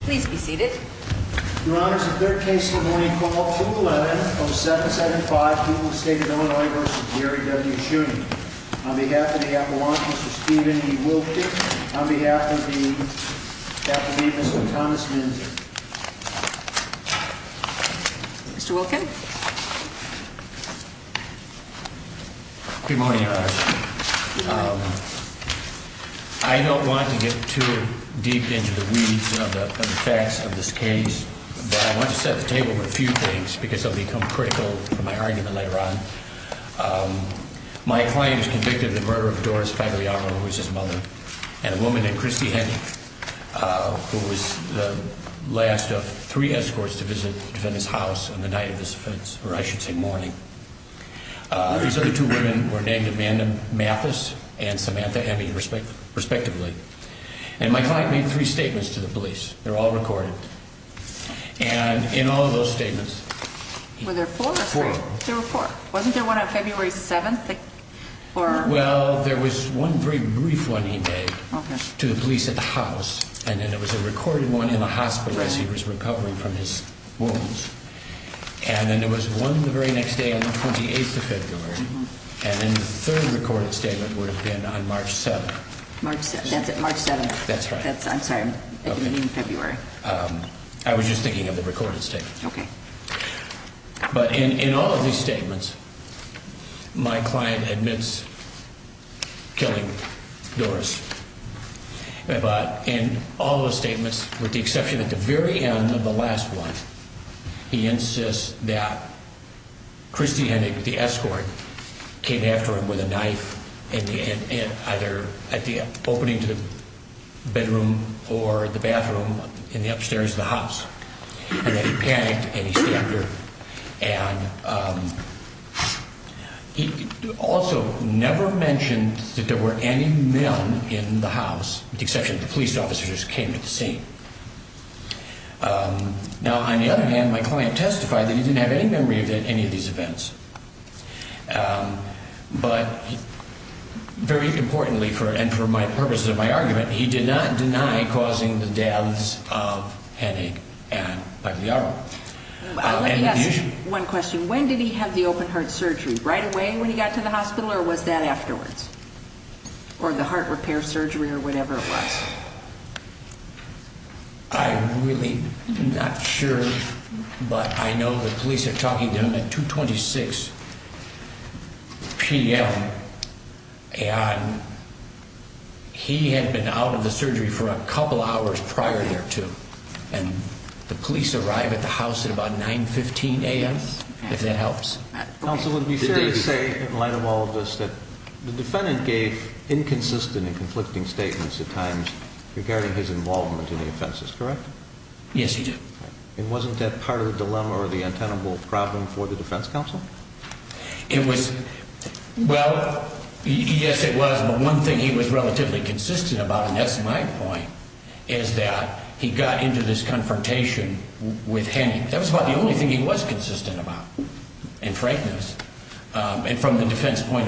Please be seated. Your Honor, this is the third case in the morning called 2-11-07-75. People of the State of Illinois v. Gary W. Schuning. On behalf of the Appalachians, Mr. Stephen E. Wilkins. On behalf of the Appalachians, Mr. Thomas Minzer. Mr. Wilkins? Good morning, Your Honor. I don't want to get too deep into the weeds of the facts of this case, but I want to set the table for a few things because they'll become critical for my argument later on. My client is convicted of the murder of Doris Fabriano, who was his mother, and a woman named Christy Henning, who was the last of three escorts to visit the defendant's house on the night of this offense, or I should say morning. These other two women were named Amanda Mathis and Samantha Hemming, respectively. And my client made three statements to the police. They're all recorded. And in all of those statements... Were there four or three? Four. There were four. Wasn't there one on February 7th? Well, there was one very brief one he made to the police at the house, and then there was a recorded one in the hospital as he was recovering from his wounds. And then there was one the very next day on the 28th of February, and then the third recorded statement would have been on March 7th. March 7th. That's it. March 7th. That's right. I'm sorry. I didn't mean February. I was just thinking of the recorded statement. Okay. But in all of these statements, my client admits killing Doris. But in all of the statements, with the exception at the very end of the last one, he insists that Christy Hennig, the escort, came after him with a knife either at the opening to the bedroom or the bathroom in the upstairs of the house. And then he panicked and he stabbed her. And he also never mentioned that there were any men in the house, with the exception of the police officers, who came to the scene. Now, on the other hand, my client testified that he didn't have any memory of any of these events. But very importantly, and for the purposes of my argument, he did not deny causing the deaths of Hennig and Pagliaro. Let me ask you one question. When did he have the open-heart surgery? Right away when he got to the hospital or was that afterwards? Or the heart repair surgery or whatever it was? I'm really not sure, but I know the police are talking to him at 2.26 p.m. And he had been out of the surgery for a couple hours prior thereto. And the police arrive at the house at about 9.15 a.m., if that helps. Counsel, it would be fair to say, in light of all of this, that the defendant gave inconsistent and conflicting statements at times regarding his involvement in the offenses, correct? Yes, he did. And wasn't that part of the dilemma or the untenable problem for the defense counsel? Well, yes, it was. But one thing he was relatively consistent about, and that's my point, is that he got into this confrontation with Hennig. That was about the only thing he was consistent about, in frankness. And from the defense point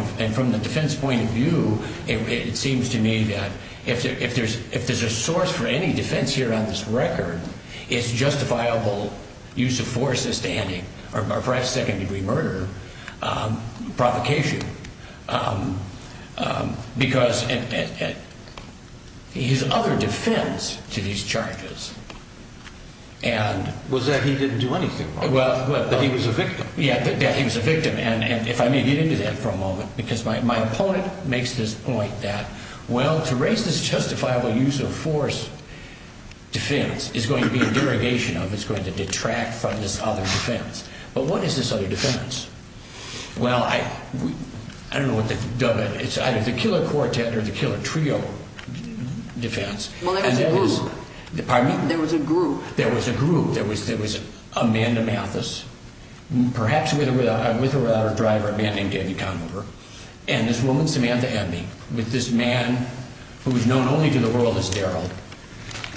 of view, it seems to me that if there's a source for any defense here on this record, it's justifiable use of force as to Hennig or perhaps second-degree murder, provocation. Because his other defense to these charges and— Was that he didn't do anything wrong, that he was a victim. Yeah, that he was a victim. And if I may get into that for a moment, because my opponent makes this point that, well, to raise this justifiable use of force defense is going to be a derogation of, it's going to detract from this other defense. But what is this other defense? Well, I don't know what to dub it. It's either the killer quartet or the killer trio defense. Well, there was a group. Pardon me? There was a group. There was a group. There was Amanda Mathis, perhaps with or without her driver, a man named Danny Conover, and this woman, Samantha Abney, with this man who is known only to the world as Daryl.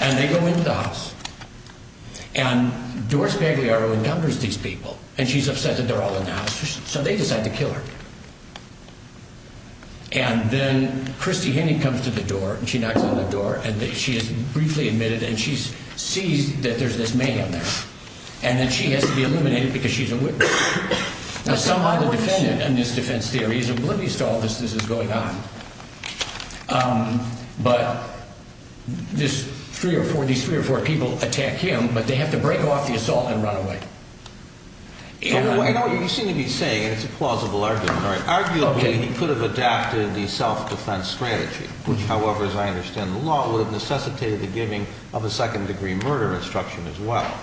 And they go into the house. And Doris Bagliaro encounters these people, and she's upset that they're all in the house. So they decide to kill her. And then Christy Henning comes to the door, and she knocks on the door, and she is briefly admitted, and she sees that there's this man in there, and that she has to be eliminated because she's a witness. Now, somehow the defendant in this defense theory is oblivious to all this that's going on, but these three or four people attack him, but they have to break off the assault and run away. I know what you seem to be saying, and it's a plausible argument. Arguably, he could have adapted the self-defense strategy, which, however, as I understand the law, would have necessitated the giving of a second-degree murder instruction as well.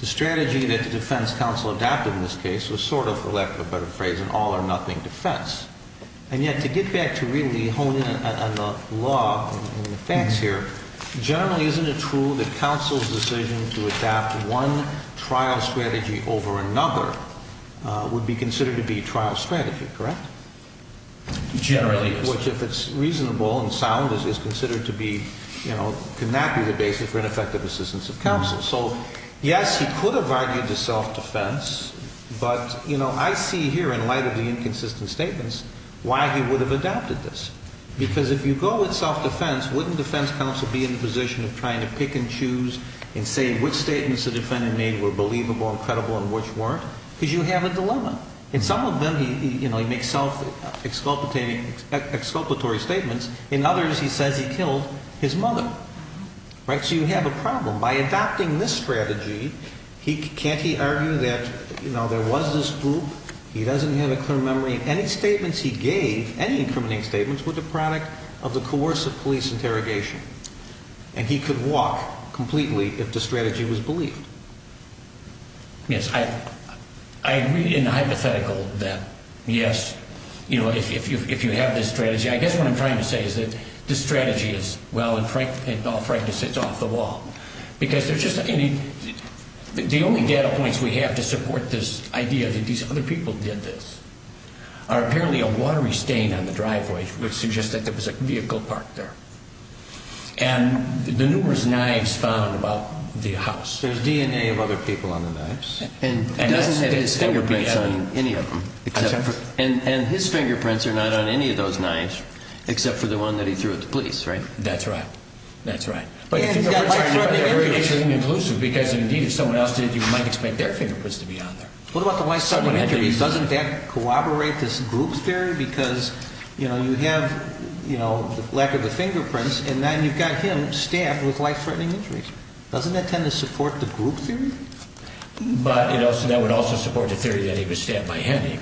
The strategy that the defense counsel adapted in this case was sort of, for lack of a better phrase, an all-or-nothing defense. And yet to get back to really hone in on the law and the facts here, generally isn't it true that counsel's decision to adapt one trial strategy over another would be considered to be trial strategy, correct? Generally, yes. Which, if it's reasonable and sound, is considered to be, you know, could not be the basis for ineffective assistance of counsel. So, yes, he could have argued the self-defense, but, you know, I see here in light of the inconsistent statements why he would have adapted this. Because if you go with self-defense, wouldn't defense counsel be in the position of trying to pick and choose and say which statements the defendant made were believable and credible and which weren't? Because you have a dilemma. In some of them, you know, he makes self-exculpatory statements. In others, he says he killed his mother, right? So you have a problem. By adapting this strategy, can't he argue that, you know, there was this group? He doesn't have a clear memory. Any statements he gave, any incriminating statements, were the product of the coercive police interrogation. And he could walk completely if the strategy was believed. Yes, I agree in the hypothetical that, yes, you know, if you have this strategy. I guess what I'm trying to say is that this strategy is, well, in all frankness, it's off the wall. Because the only data points we have to support this idea that these other people did this are apparently a watery stain on the driveway, which suggests that there was a vehicle parked there. And the numerous knives found about the house. There's DNA of other people on the knives. And he doesn't have his fingerprints on any of them. And his fingerprints are not on any of those knives, except for the one that he threw at the police, right? That's right. That's right. But he's got life-threatening injuries. Because, indeed, if someone else did, you might expect their fingerprints to be on there. What about the life-threatening injuries? Doesn't that corroborate this group theory? Because, you know, you have, you know, the lack of the fingerprints. And then you've got him stabbed with life-threatening injuries. Doesn't that tend to support the group theory? But, you know, that would also support the theory that he was stabbed by Henny.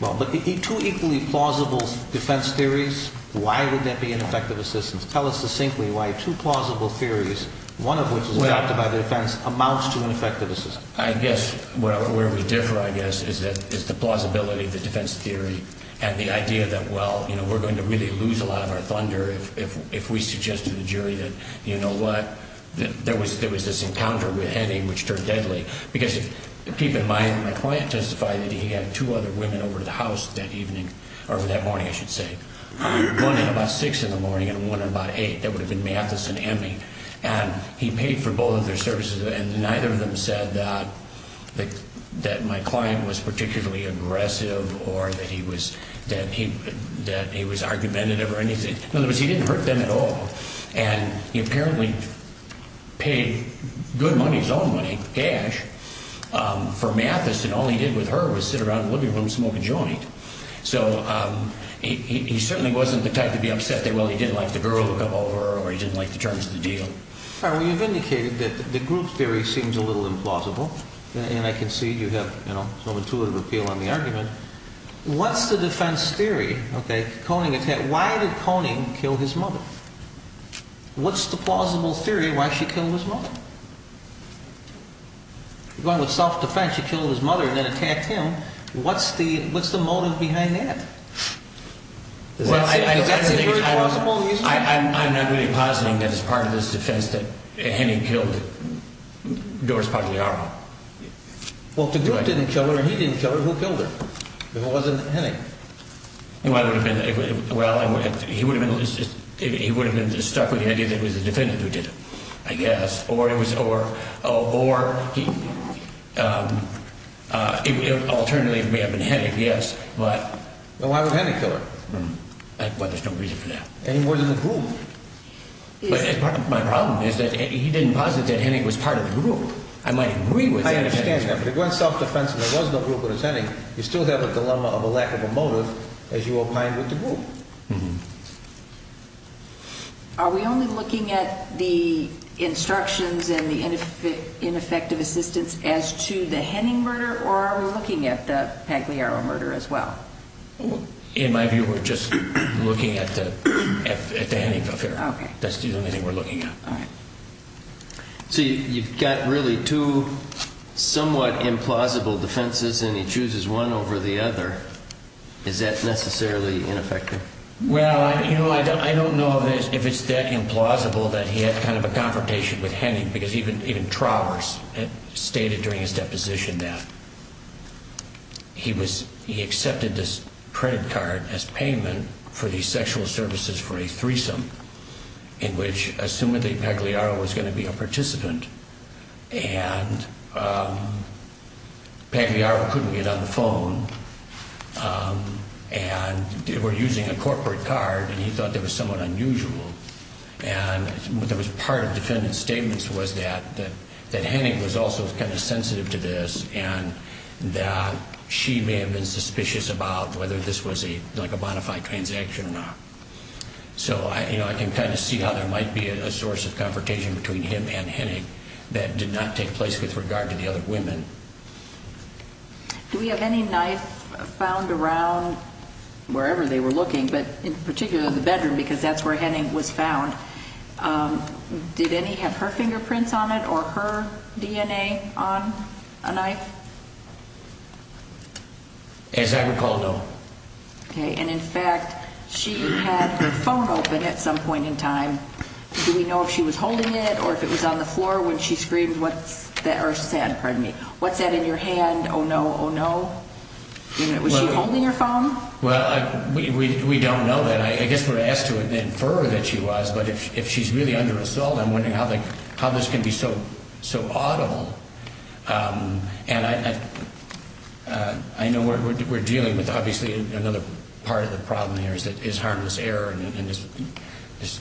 Well, but two equally plausible defense theories, why would that be an effective assistance? Tell us succinctly why two plausible theories, one of which is adopted by the defense, amounts to an effective assistance. I guess where we differ, I guess, is the plausibility of the defense theory and the idea that, well, you know, we're going to really lose a lot of our thunder if we suggest to the jury that, you know what, there was this encounter with Henny which turned deadly. Because, keep in mind, my client testified that he had two other women over to the house that evening, or that morning, I should say. One at about 6 in the morning and one at about 8. That would have been Mathis and Henny. And he paid for both of their services, and neither of them said that my client was particularly aggressive or that he was argumentative or anything. In other words, he didn't hurt them at all. And he apparently paid good money, his own money, cash, for Mathis, and all he did with her was sit around the living room smoking joint. So he certainly wasn't the type to be upset that, well, he didn't like the girl to come over or he didn't like the terms of the deal. Well, you've indicated that the group theory seems a little implausible, and I can see you have some intuitive appeal on the argument. What's the defense theory? Why did Koning kill his mother? What's the plausible theory why she killed his mother? Going with self-defense, she killed his mother and then attacked him. What's the motive behind that? Is that a very plausible reason? I'm not really positing that it's part of this defense that Henny killed Doris Pagliaro. Well, if the group didn't kill her and he didn't kill her, who killed her? If it wasn't Henny. Well, he would have been stuck with the idea that it was the defendant who did it, I guess, or alternately it may have been Henny, yes, but… Then why would Henny kill her? Well, there's no reason for that. And he wasn't in the group. My problem is that he didn't posit that Henny was part of the group. I might agree with that. I understand that, but if it weren't self-defense and there was no group but it was Henny, you still have a dilemma of a lack of a motive as you opine with the group. Are we only looking at the instructions and the ineffective assistance as to the Henning murder or are we looking at the Pagliaro murder as well? In my view, we're just looking at the Henning affair. That's the only thing we're looking at. So you've got really two somewhat implausible defenses and he chooses one over the other. Is that necessarily ineffective? Well, I don't know if it's that implausible that he had kind of a confrontation with Henny because even Travers stated during his deposition that he accepted this credit card as payment for the sexual services for a threesome in which, assuming that Pagliaro was going to be a participant, and Pagliaro couldn't get on the phone and they were using a corporate card and he thought that was somewhat unusual. And part of the defendant's statements was that Henny was also kind of sensitive to this and that she may have been suspicious about whether this was a bona fide transaction or not. So I can kind of see how there might be a source of confrontation between him and Henning that did not take place with regard to the other women. Do we have any knife found around wherever they were looking, but in particular the bedroom because that's where Henning was found? Did Henny have her fingerprints on it or her DNA on a knife? As I recall, no. Okay. And, in fact, she had her phone open at some point in time. Do we know if she was holding it or if it was on the floor when she screamed, or said, pardon me, what's that in your hand, oh no, oh no? Was she holding her phone? Well, we don't know that. I guess we're asked to infer that she was, but if she's really under assault, I'm wondering how this can be so audible. And I know we're dealing with, obviously, another part of the problem here is harmless error and this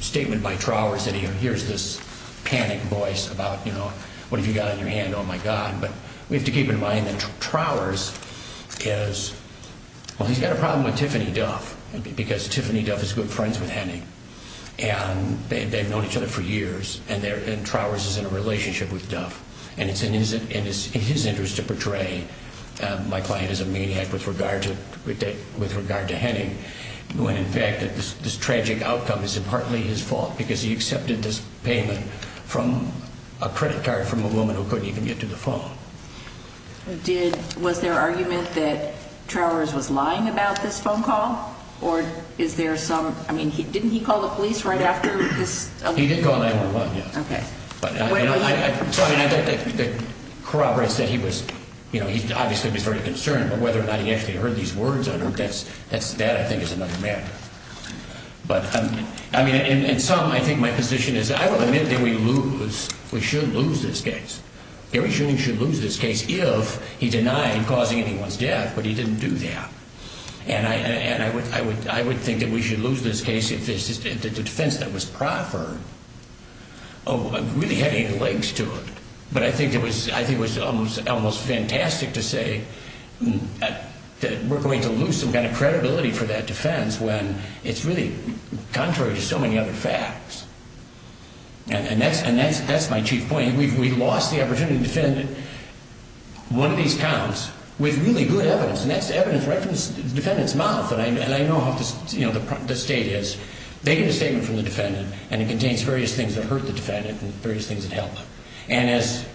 statement by Trowers that he hears this panicked voice about, you know, what have you got in your hand, oh my God. But we have to keep in mind that Trowers is, well, he's got a problem with Tiffany Duff because Tiffany Duff is good friends with Henning and they've known each other for years and Trowers is in a relationship with Duff. And it's in his interest to portray my client as a maniac with regard to Henning when, in fact, this tragic outcome is partly his fault because he accepted this payment from a credit card from a woman who couldn't even get to the phone. Was there argument that Trowers was lying about this phone call or is there some, I mean, didn't he call the police right after this? He did call 911, yes. Okay. But, I mean, the corroborates that he was, you know, he obviously was very concerned, but whether or not he actually heard these words on her, that I think is another matter. But, I mean, in sum, I think my position is I will admit that we lose, we should lose this case. Gary Shulman should lose this case if he denied causing anyone's death, but he didn't do that. And I would think that we should lose this case if the defense that was proffered really had any legs to it. But I think it was almost fantastic to say that we're going to lose some kind of credibility for that defense when it's really contrary to so many other facts. And that's my chief point. We lost the opportunity to defend one of these counts with really good evidence, and that's evidence right from the defendant's mouth. And I know how, you know, the state is. They get a statement from the defendant, and it contains various things that hurt the defendant and various things that help them. And as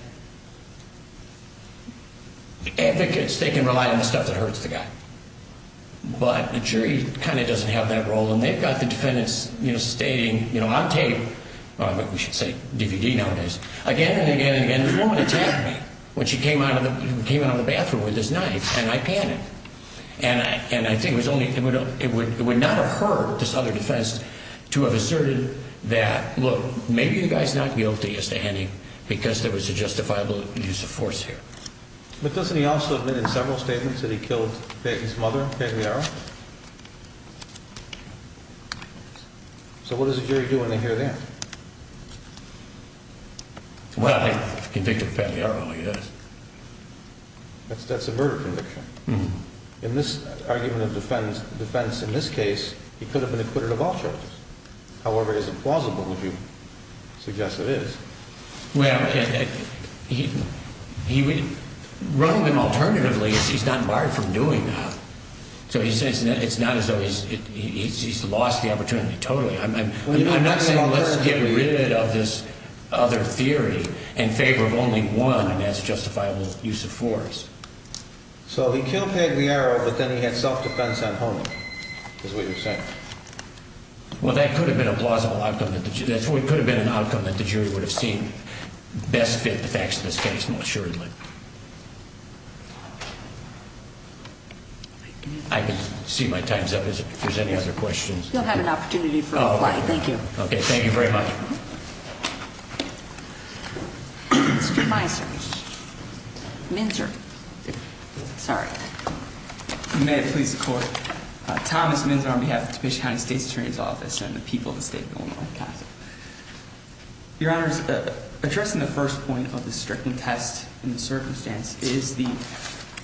advocates, they can rely on the stuff that hurts the guy. But the jury kind of doesn't have that role. And they've got the defendants, you know, stating, you know, on tape, we should say DVD nowadays, again and again and again, this woman attacked me when she came out of the bathroom with this knife, and I panicked. And I think it would not have hurt this other defense to have asserted that, look, maybe the guy's not guilty as to any, because there was a justifiable use of force here. But doesn't he also admit in several statements that he killed his mother, Pamela? So what does the jury do when they hear that? Well, I think the convict is Pamela, yes. That's a murder conviction. In this argument of defense, in this case, he could have been acquitted of all charges. However, it isn't plausible, would you suggest it is? Well, running them alternatively is he's not barred from doing that. So he says it's not as though he's lost the opportunity totally. I'm not saying let's get rid of this other theory in favor of only one, and that's justifiable use of force. So he killed Peg Liero, but then he had self-defense on homing, is what you're saying. Well, that could have been a plausible outcome. It could have been an outcome that the jury would have seen best fit the facts of this case more assuredly. I can see my time's up. If there's any other questions. You'll have an opportunity for a reply. Thank you. Okay. Thank you very much. Mr. Meiser. Minzer. Sorry. May it please the Court. Thomas Minzer on behalf of the Topeka County State's Attorney's Office and the people of the State of Illinois Counsel. Your Honors, addressing the first point of the stricken test in the circumstance is the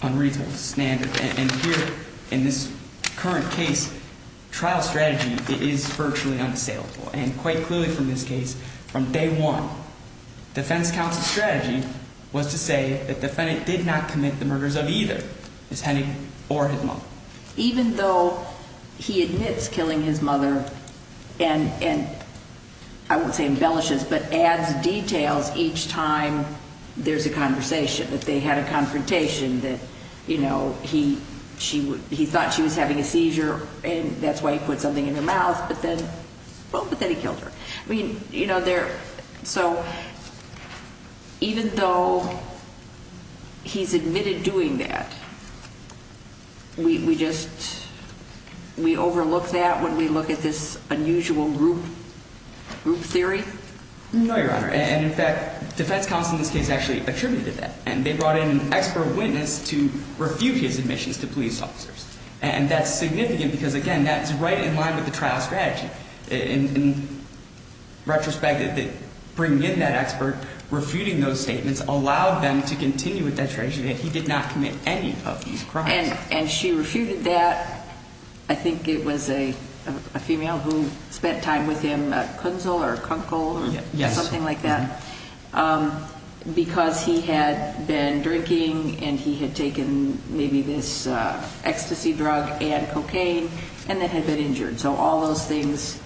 unreasonable standard. And here in this current case, trial strategy is virtually unassailable. And quite clearly from this case, from day one, defense counsel's strategy was to say the defendant did not commit the murders of either his honey or his mom. Even though he admits killing his mother and, I won't say embellishes, but adds details each time there's a conversation, that they had a confrontation, that, you know, he thought she was having a seizure and that's why he put something in her mouth. But then, well, but then he killed her. So even though he's admitted doing that, we just, we overlook that when we look at this unusual group theory? No, Your Honor. And, in fact, defense counsel in this case actually attributed that. And they brought in an expert witness to refute his admissions to police officers. And that's significant because, again, that's right in line with the trial strategy. In retrospect, bringing in that expert, refuting those statements allowed them to continue with that strategy that he did not commit any of these crimes. And she refuted that. I think it was a female who spent time with him, Kunzel or Kunkel or something like that. Yes. Because he had been drinking and he had taken maybe this ecstasy drug and cocaine and then had been injured. So all those things,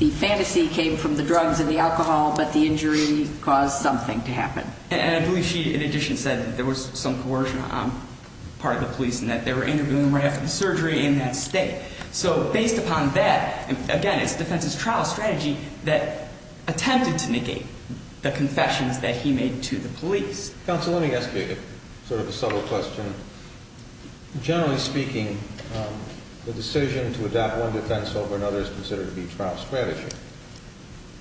the fantasy came from the drugs and the alcohol, but the injury caused something to happen. And I believe she, in addition, said that there was some coercion on part of the police and that they were interviewing him right after the surgery in that state. So based upon that, again, it's defense's trial strategy that attempted to negate the confessions that he made to the police. Counsel, let me ask you sort of a subtle question. Generally speaking, the decision to adopt one defense over another is considered to be trial strategy,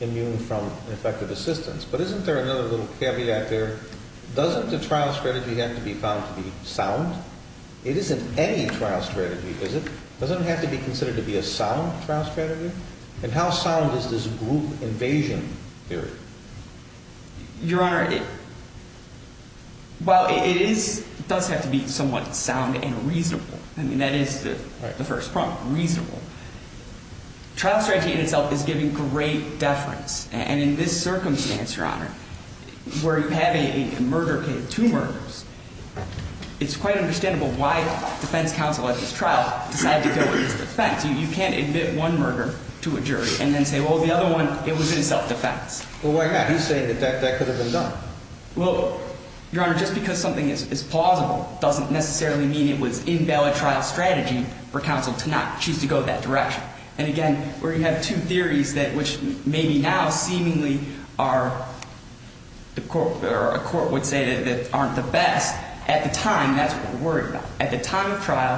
immune from effective assistance. But isn't there another little caveat there? Doesn't the trial strategy have to be found to be sound? It isn't any trial strategy, is it? Doesn't it have to be considered to be a sound trial strategy? And how sound is this group invasion theory? Your Honor, well, it does have to be somewhat sound and reasonable. I mean, that is the first prompt, reasonable. Trial strategy in itself is giving great deference. And in this circumstance, Your Honor, where you have a murder case, two murders, it's quite understandable why defense counsel at this trial decided to go with this defense. You can't admit one murder to a jury and then say, well, the other one, it was in self-defense. Well, why not? He's saying that that could have been done. Well, Your Honor, just because something is plausible doesn't necessarily mean it was invalid trial strategy for counsel to not choose to go that direction. And, again, where you have two theories that which maybe now seemingly are a court would say that aren't the best, at the time, that's what we're worried about. At the time of trial,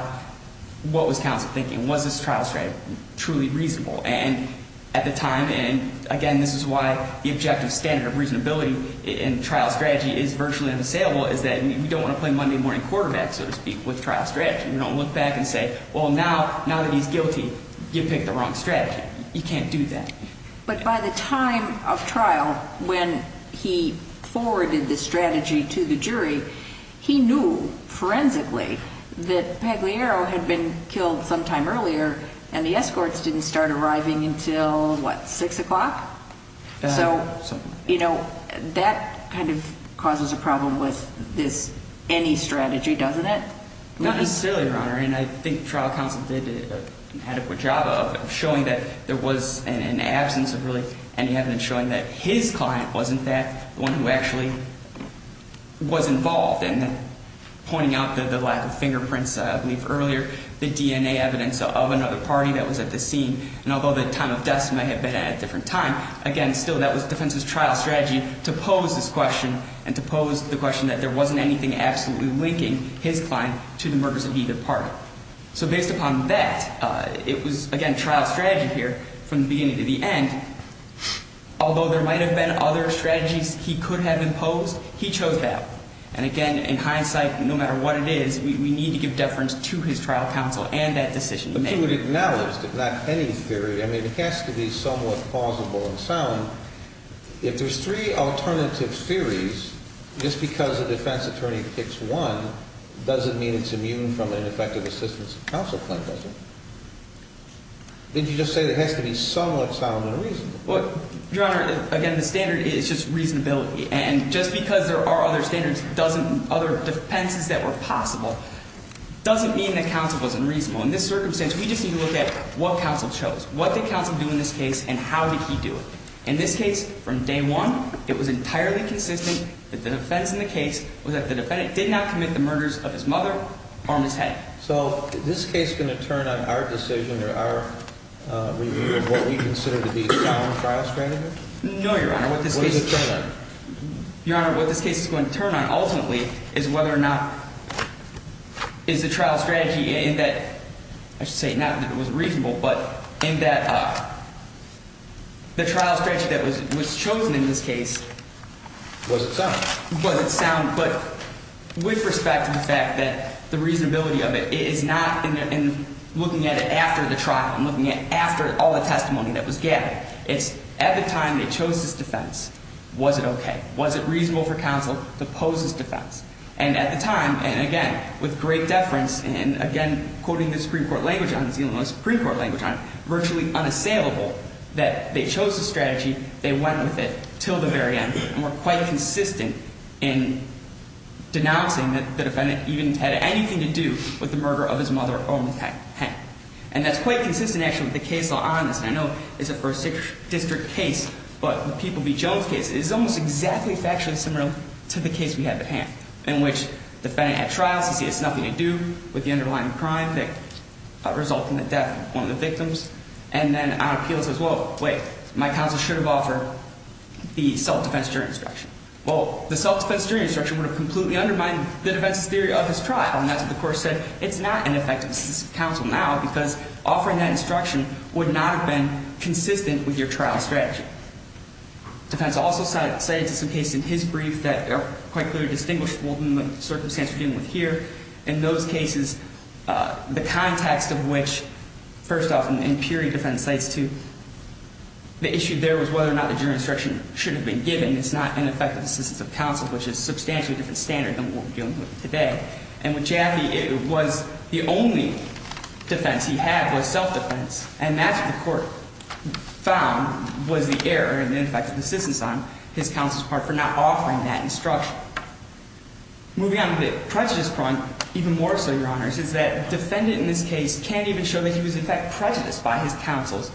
what was counsel thinking? Was this trial strategy truly reasonable? And, at the time, and, again, this is why the objective standard of reasonability in trial strategy is virtually unassailable, is that you don't want to play Monday morning quarterback, so to speak, with trial strategy. You don't look back and say, well, now that he's guilty, you picked the wrong strategy. You can't do that. But by the time of trial, when he forwarded the strategy to the jury, he knew, forensically, that Pagliaro had been killed sometime earlier and the escorts didn't start arriving until, what, 6 o'clock? So, you know, that kind of causes a problem with this any strategy, doesn't it? Not necessarily, Your Honor, and I think trial counsel did an adequate job of showing that there was an absence of really any evidence showing that his client wasn't that, the one who actually was involved. And pointing out the lack of fingerprints, I believe, earlier, the DNA evidence of another party that was at the scene. And although the time of death might have been at a different time, again, still, that was defense's trial strategy to pose this question and to pose the question that there wasn't anything absolutely linking his client to the murders of either party. So, based upon that, it was, again, trial strategy here from the beginning to the end. Although there might have been other strategies he could have imposed, he chose that. And, again, in hindsight, no matter what it is, we need to give deference to his trial counsel and that decision he made. If you would acknowledge, if not any theory, I mean, it has to be somewhat plausible and sound. If there's three alternative theories, just because a defense attorney picks one doesn't mean it's immune from an effective assistance of counsel claim, does it? Didn't you just say it has to be somewhat sound and reasonable? Well, Your Honor, again, the standard is just reasonability. And just because there are other standards doesn't, other defenses that were possible, doesn't mean that counsel wasn't reasonable. In this circumstance, we just need to look at what counsel chose. What did counsel do in this case and how did he do it? In this case, from day one, it was entirely consistent that the defense in the case was that the defendant did not commit the murders of his mother or of his head. So, is this case going to turn on our decision or our review of what we consider to be a sound trial strategy? No, Your Honor. What is it going to turn on? Your Honor, what this case is going to turn on ultimately is whether or not is the trial strategy in that, I should say not that it was reasonable, but in that the trial strategy that was chosen in this case. Was it sound? Was it sound, but with respect to the fact that the reasonability of it is not in looking at it after the trial and looking at it after all the testimony that was gathered. It's at the time they chose this defense, was it okay? Was it reasonable for counsel to pose this defense? And at the time, and again, with great deference, and again, quoting the Supreme Court language on it, the Supreme Court language on it, virtually unassailable, that they chose the strategy, they went with it until the very end, and were quite consistent in denouncing that the defendant even had anything to do with the murder of his mother or his head. And that's quite consistent, actually, with the case law on this, and I know it's a first district case, but the People v. Jones case is almost exactly factually similar to the case we have at hand, in which the defendant had trials to say it's nothing to do with the underlying crime that result in the death of one of the victims, and then on appeal says, whoa, wait, my counsel should have offered the self-defense jury instruction. Well, the self-defense jury instruction would have completely undermined the defense's theory of his trial, and that's what the court said. So it's not an effective assistance of counsel now, because offering that instruction would not have been consistent with your trial strategy. The defense also cited some cases in his brief that are quite clearly distinguishable from the circumstance we're dealing with here. In those cases, the context of which, first off, in the Peoria defense, the issue there was whether or not the jury instruction should have been given. It's not an effective assistance of counsel, which is a substantially different standard than what we're dealing with today. And with Jaffe, it was the only defense he had was self-defense. And that's what the court found was the error in the effective assistance on his counsel's part for not offering that instruction. Moving on to the prejudice point, even more so, Your Honors, is that the defendant in this case can't even show that he was in fact prejudiced by his counsel's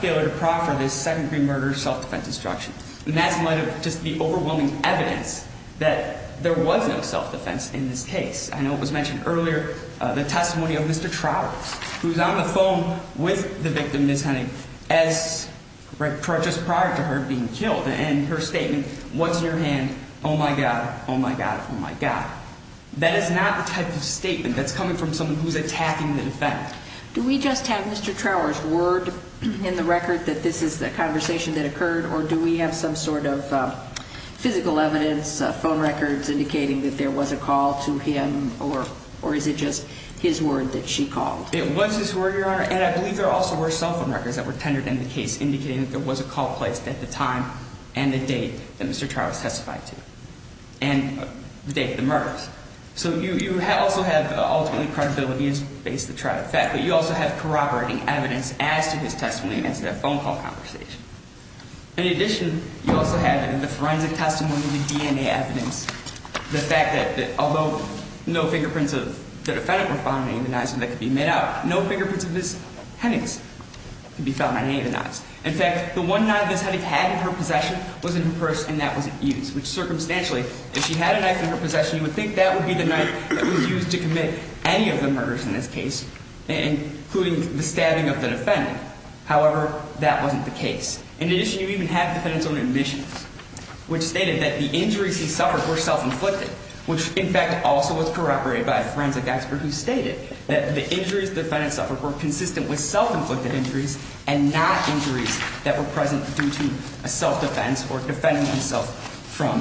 failure to proffer this second-degree murder self-defense instruction. And that's just the overwhelming evidence that there was no self-defense in this case. I know it was mentioned earlier, the testimony of Mr. Trauer, who's on the phone with the victim, Ms. Hennig, just prior to her being killed. And her statement, what's in your hand? Oh, my God. Oh, my God. Oh, my God. That is not the type of statement that's coming from someone who's attacking the defendant. Do we just have Mr. Trauer's word in the record that this is the conversation that occurred? Or do we have some sort of physical evidence, phone records indicating that there was a call to him? Or is it just his word that she called? It was his word, Your Honor. And I believe there also were cell phone records that were tendered in the case indicating that there was a call placed at the time and the date that Mr. Trauer testified to and the date of the murders. So you also have, ultimately, credibility is based on the fact that you also have corroborating evidence as to his testimony against that phone call conversation. In addition, you also have in the forensic testimony, the DNA evidence, the fact that although no fingerprints of the defendant were found on any of the knives that could be made out, no fingerprints of Ms. Hennig could be found on any of the knives. In fact, the one knife Ms. Hennig had in her possession was in her purse, and that wasn't used. Which, circumstantially, if she had a knife in her possession, you would think that would be the knife that was used to commit any of the murders in this case, including the stabbing of the defendant. However, that wasn't the case. In addition, you even have defendant's own admissions, which stated that the injuries he suffered were self-inflicted, which, in fact, also was corroborated by a forensic expert who stated that the injuries the defendant suffered were consistent with self-inflicted injuries and not injuries that were present due to a self-defense or defending himself from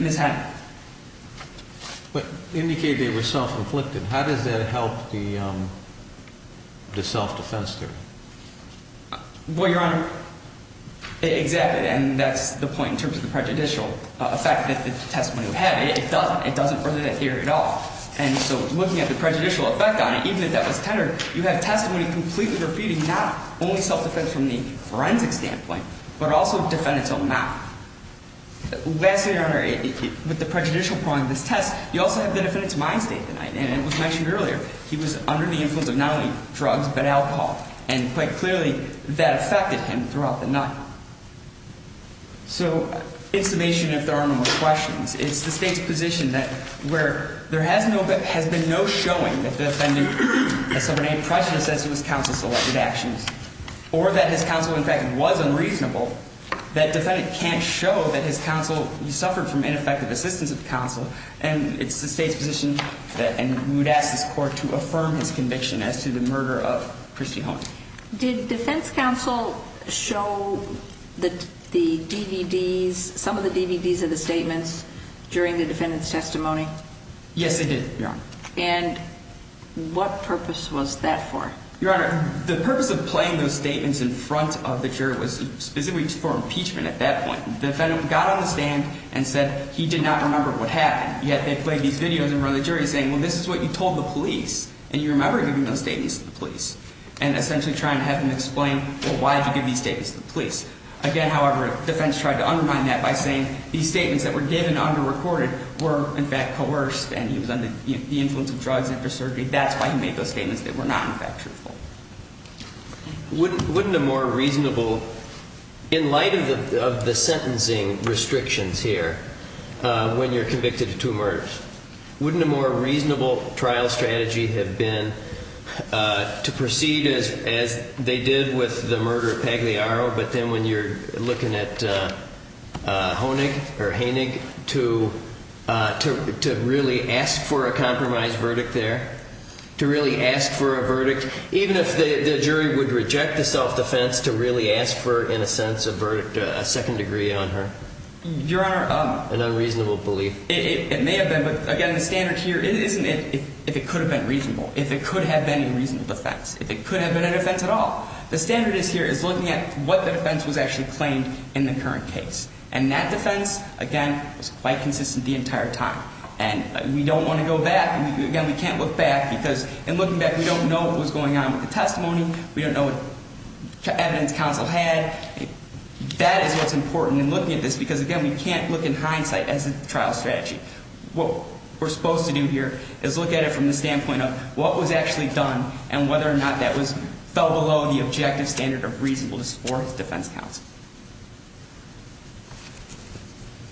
Ms. Hennig. But indicated they were self-inflicted. How does that help the self-defense theory? Well, Your Honor, exactly. And that's the point in terms of the prejudicial effect that the testimony would have. It doesn't. It doesn't further that theory at all. And so looking at the prejudicial effect on it, even if that was tenor, you have testimony completely refuting not only self-defense from the forensic standpoint, but also defendant's own mouth. Lastly, Your Honor, with the prejudicial point of this test, you also have the defendant's mind state tonight. And it was mentioned earlier. He was under the influence of not only drugs but alcohol. And quite clearly, that affected him throughout the night. So in summation, if there are no more questions, it's the State's position that where there has been no showing that the defendant has suffered any prejudice as to his counsel's selected actions or that his counsel, in fact, was unreasonable, that defendant can't show that his counsel suffered from ineffective assistance of counsel. And it's the State's position that we would ask this Court to affirm his conviction as to the murder of Christy Holt. Did defense counsel show the DVDs, some of the DVDs of the statements during the defendant's testimony? Yes, they did, Your Honor. And what purpose was that for? Your Honor, the purpose of playing those statements in front of the jury was specifically for impeachment at that point. The defendant got on the stand and said he did not remember what happened. Yet they played these videos in front of the jury saying, well, this is what you told the police. And you remember giving those statements to the police. And essentially trying to have them explain, well, why did you give these statements to the police? Again, however, defense tried to undermine that by saying these statements that were given under-recorded were, in fact, coerced. And he was under the influence of drugs after surgery. That's why he made those statements that were not, in fact, truthful. Wouldn't a more reasonable, in light of the sentencing restrictions here, when you're convicted of two murders, wouldn't a more reasonable trial strategy have been to proceed as they did with the murder of Pagliaro, but then when you're looking at Honig or Hainig, to really ask for a compromise verdict there? To really ask for a verdict, even if the jury would reject the self-defense, to really ask for, in a sense, a verdict, a second degree on her? Your Honor, it may have been because of the fact that the jury was trying to undermine that. But again, the standard here isn't if it could have been reasonable, if it could have been a reasonable defense, if it could have been a defense at all. The standard here is looking at what the defense was actually claimed in the current case. And that defense, again, was quite consistent the entire time. And we don't want to go back. Again, we can't look back because in looking back, we don't know what was going on with the testimony. We don't know what evidence counsel had. That is what's important in looking at this because, again, we can't look in hindsight as a trial strategy. What we're supposed to do here is look at it from the standpoint of what was actually done and whether or not that fell below the objective standard of reasonableness for defense counsel.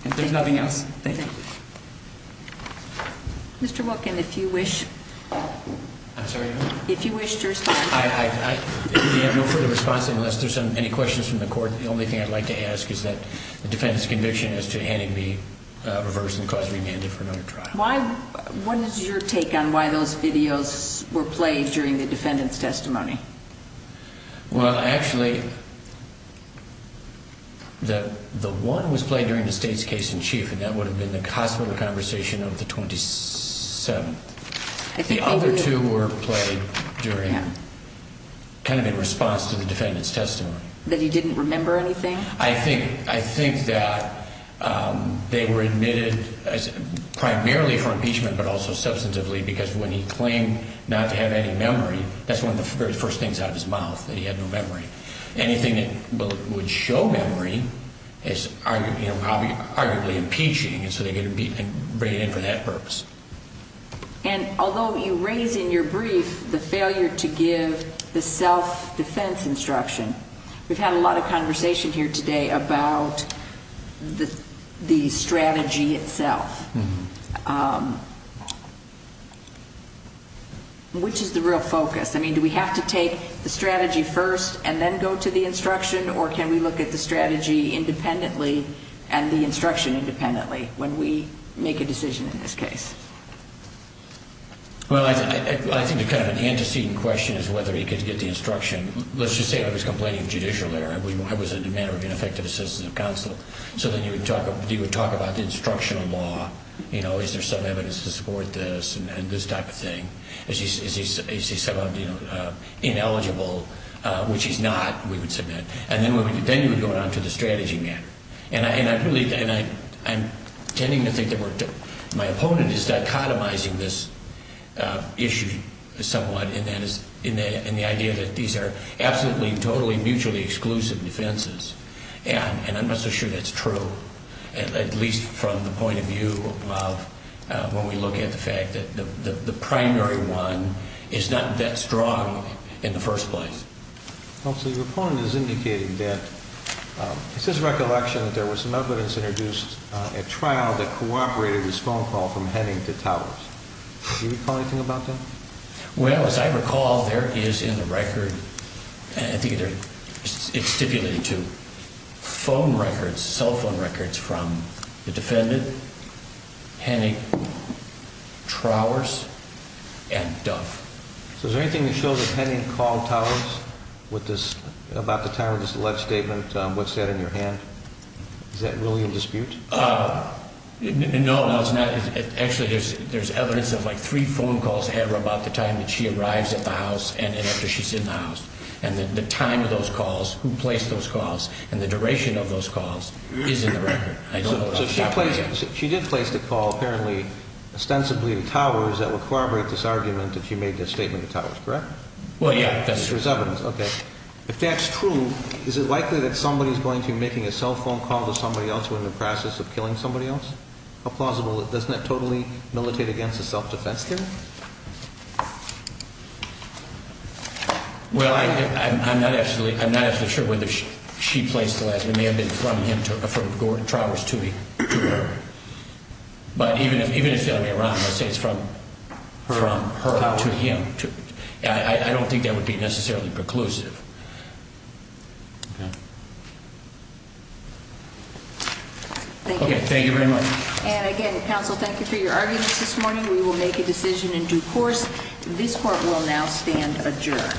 If there's nothing else, thank you. Mr. Wilkin, if you wish to respond. I have no further response unless there's any questions from the court. The only thing I'd like to ask is that the defendant's conviction as to handing me reverse and cause remanded for another trial. What is your take on why those videos were played during the defendant's testimony? Well, actually, the one was played during the state's case in chief, and that would have been the hospital conversation of the 27th. The other two were played kind of in response to the defendant's testimony. That he didn't remember anything? I think that they were admitted primarily for impeachment but also substantively because when he claimed not to have any memory, that's one of the very first things out of his mouth, that he had no memory. Anything that would show memory is arguably impeaching, and so they're going to bring it in for that purpose. And although you raise in your brief the failure to give the self-defense instruction, we've had a lot of conversation here today about the strategy itself. Which is the real focus? I mean, do we have to take the strategy first and then go to the instruction, or can we look at the strategy independently and the instruction independently when we make a decision in this case? Well, I think the kind of antecedent question is whether he could get the instruction. Let's just say he was complaining of judicial error. It was a matter of ineffective assistance of counsel. So then you would talk about the instructional law. You know, is there some evidence to support this and this type of thing? Is he somehow ineligible, which he's not, we would submit. And then you would go on to the strategy matter. And I'm tending to think that my opponent is dichotomizing this issue somewhat in the idea that these are absolutely, totally, mutually exclusive defenses. And I'm not so sure that's true, at least from the point of view of when we look at the fact that this particular case, this very one, is not that strong in the first place. Counsel, your opponent is indicating that it's his recollection that there was some evidence introduced at trial that cooperated his phone call from Henning to Towers. Do you recall anything about that? Well, as I recall, there is in the record, I think it's stipulated too, phone records, cell phone records from the defendant, Henning, Trowers, and Dove. So is there anything that shows that Henning called Towers about the time of this alleged statement? What's that in your hand? Is that really in dispute? No, no, it's not. Actually, there's evidence of, like, three phone calls to Henning about the time that she arrives at the house and after she's in the house, and the time of those calls, who placed those calls, and the duration of those calls is in the record. So she did place the call, apparently, ostensibly to Towers that would corroborate this argument that she made this statement to Towers, correct? Well, yeah, that is true. There's evidence. Okay. If that's true, is it likely that somebody is going to be making a cell phone call to somebody else who is in the process of killing somebody else? How plausible is that? Doesn't that totally militate against the self-defense theory? Well, I'm not actually sure whether she placed the last commandment from Towers to her. But even if it were Iran, let's say it's from her to him, I don't think that would be necessarily preclusive. Okay. Thank you. Okay, thank you very much. And, again, counsel, thank you for your arguments this morning. We will make a decision in due course. This court will now stand adjourned.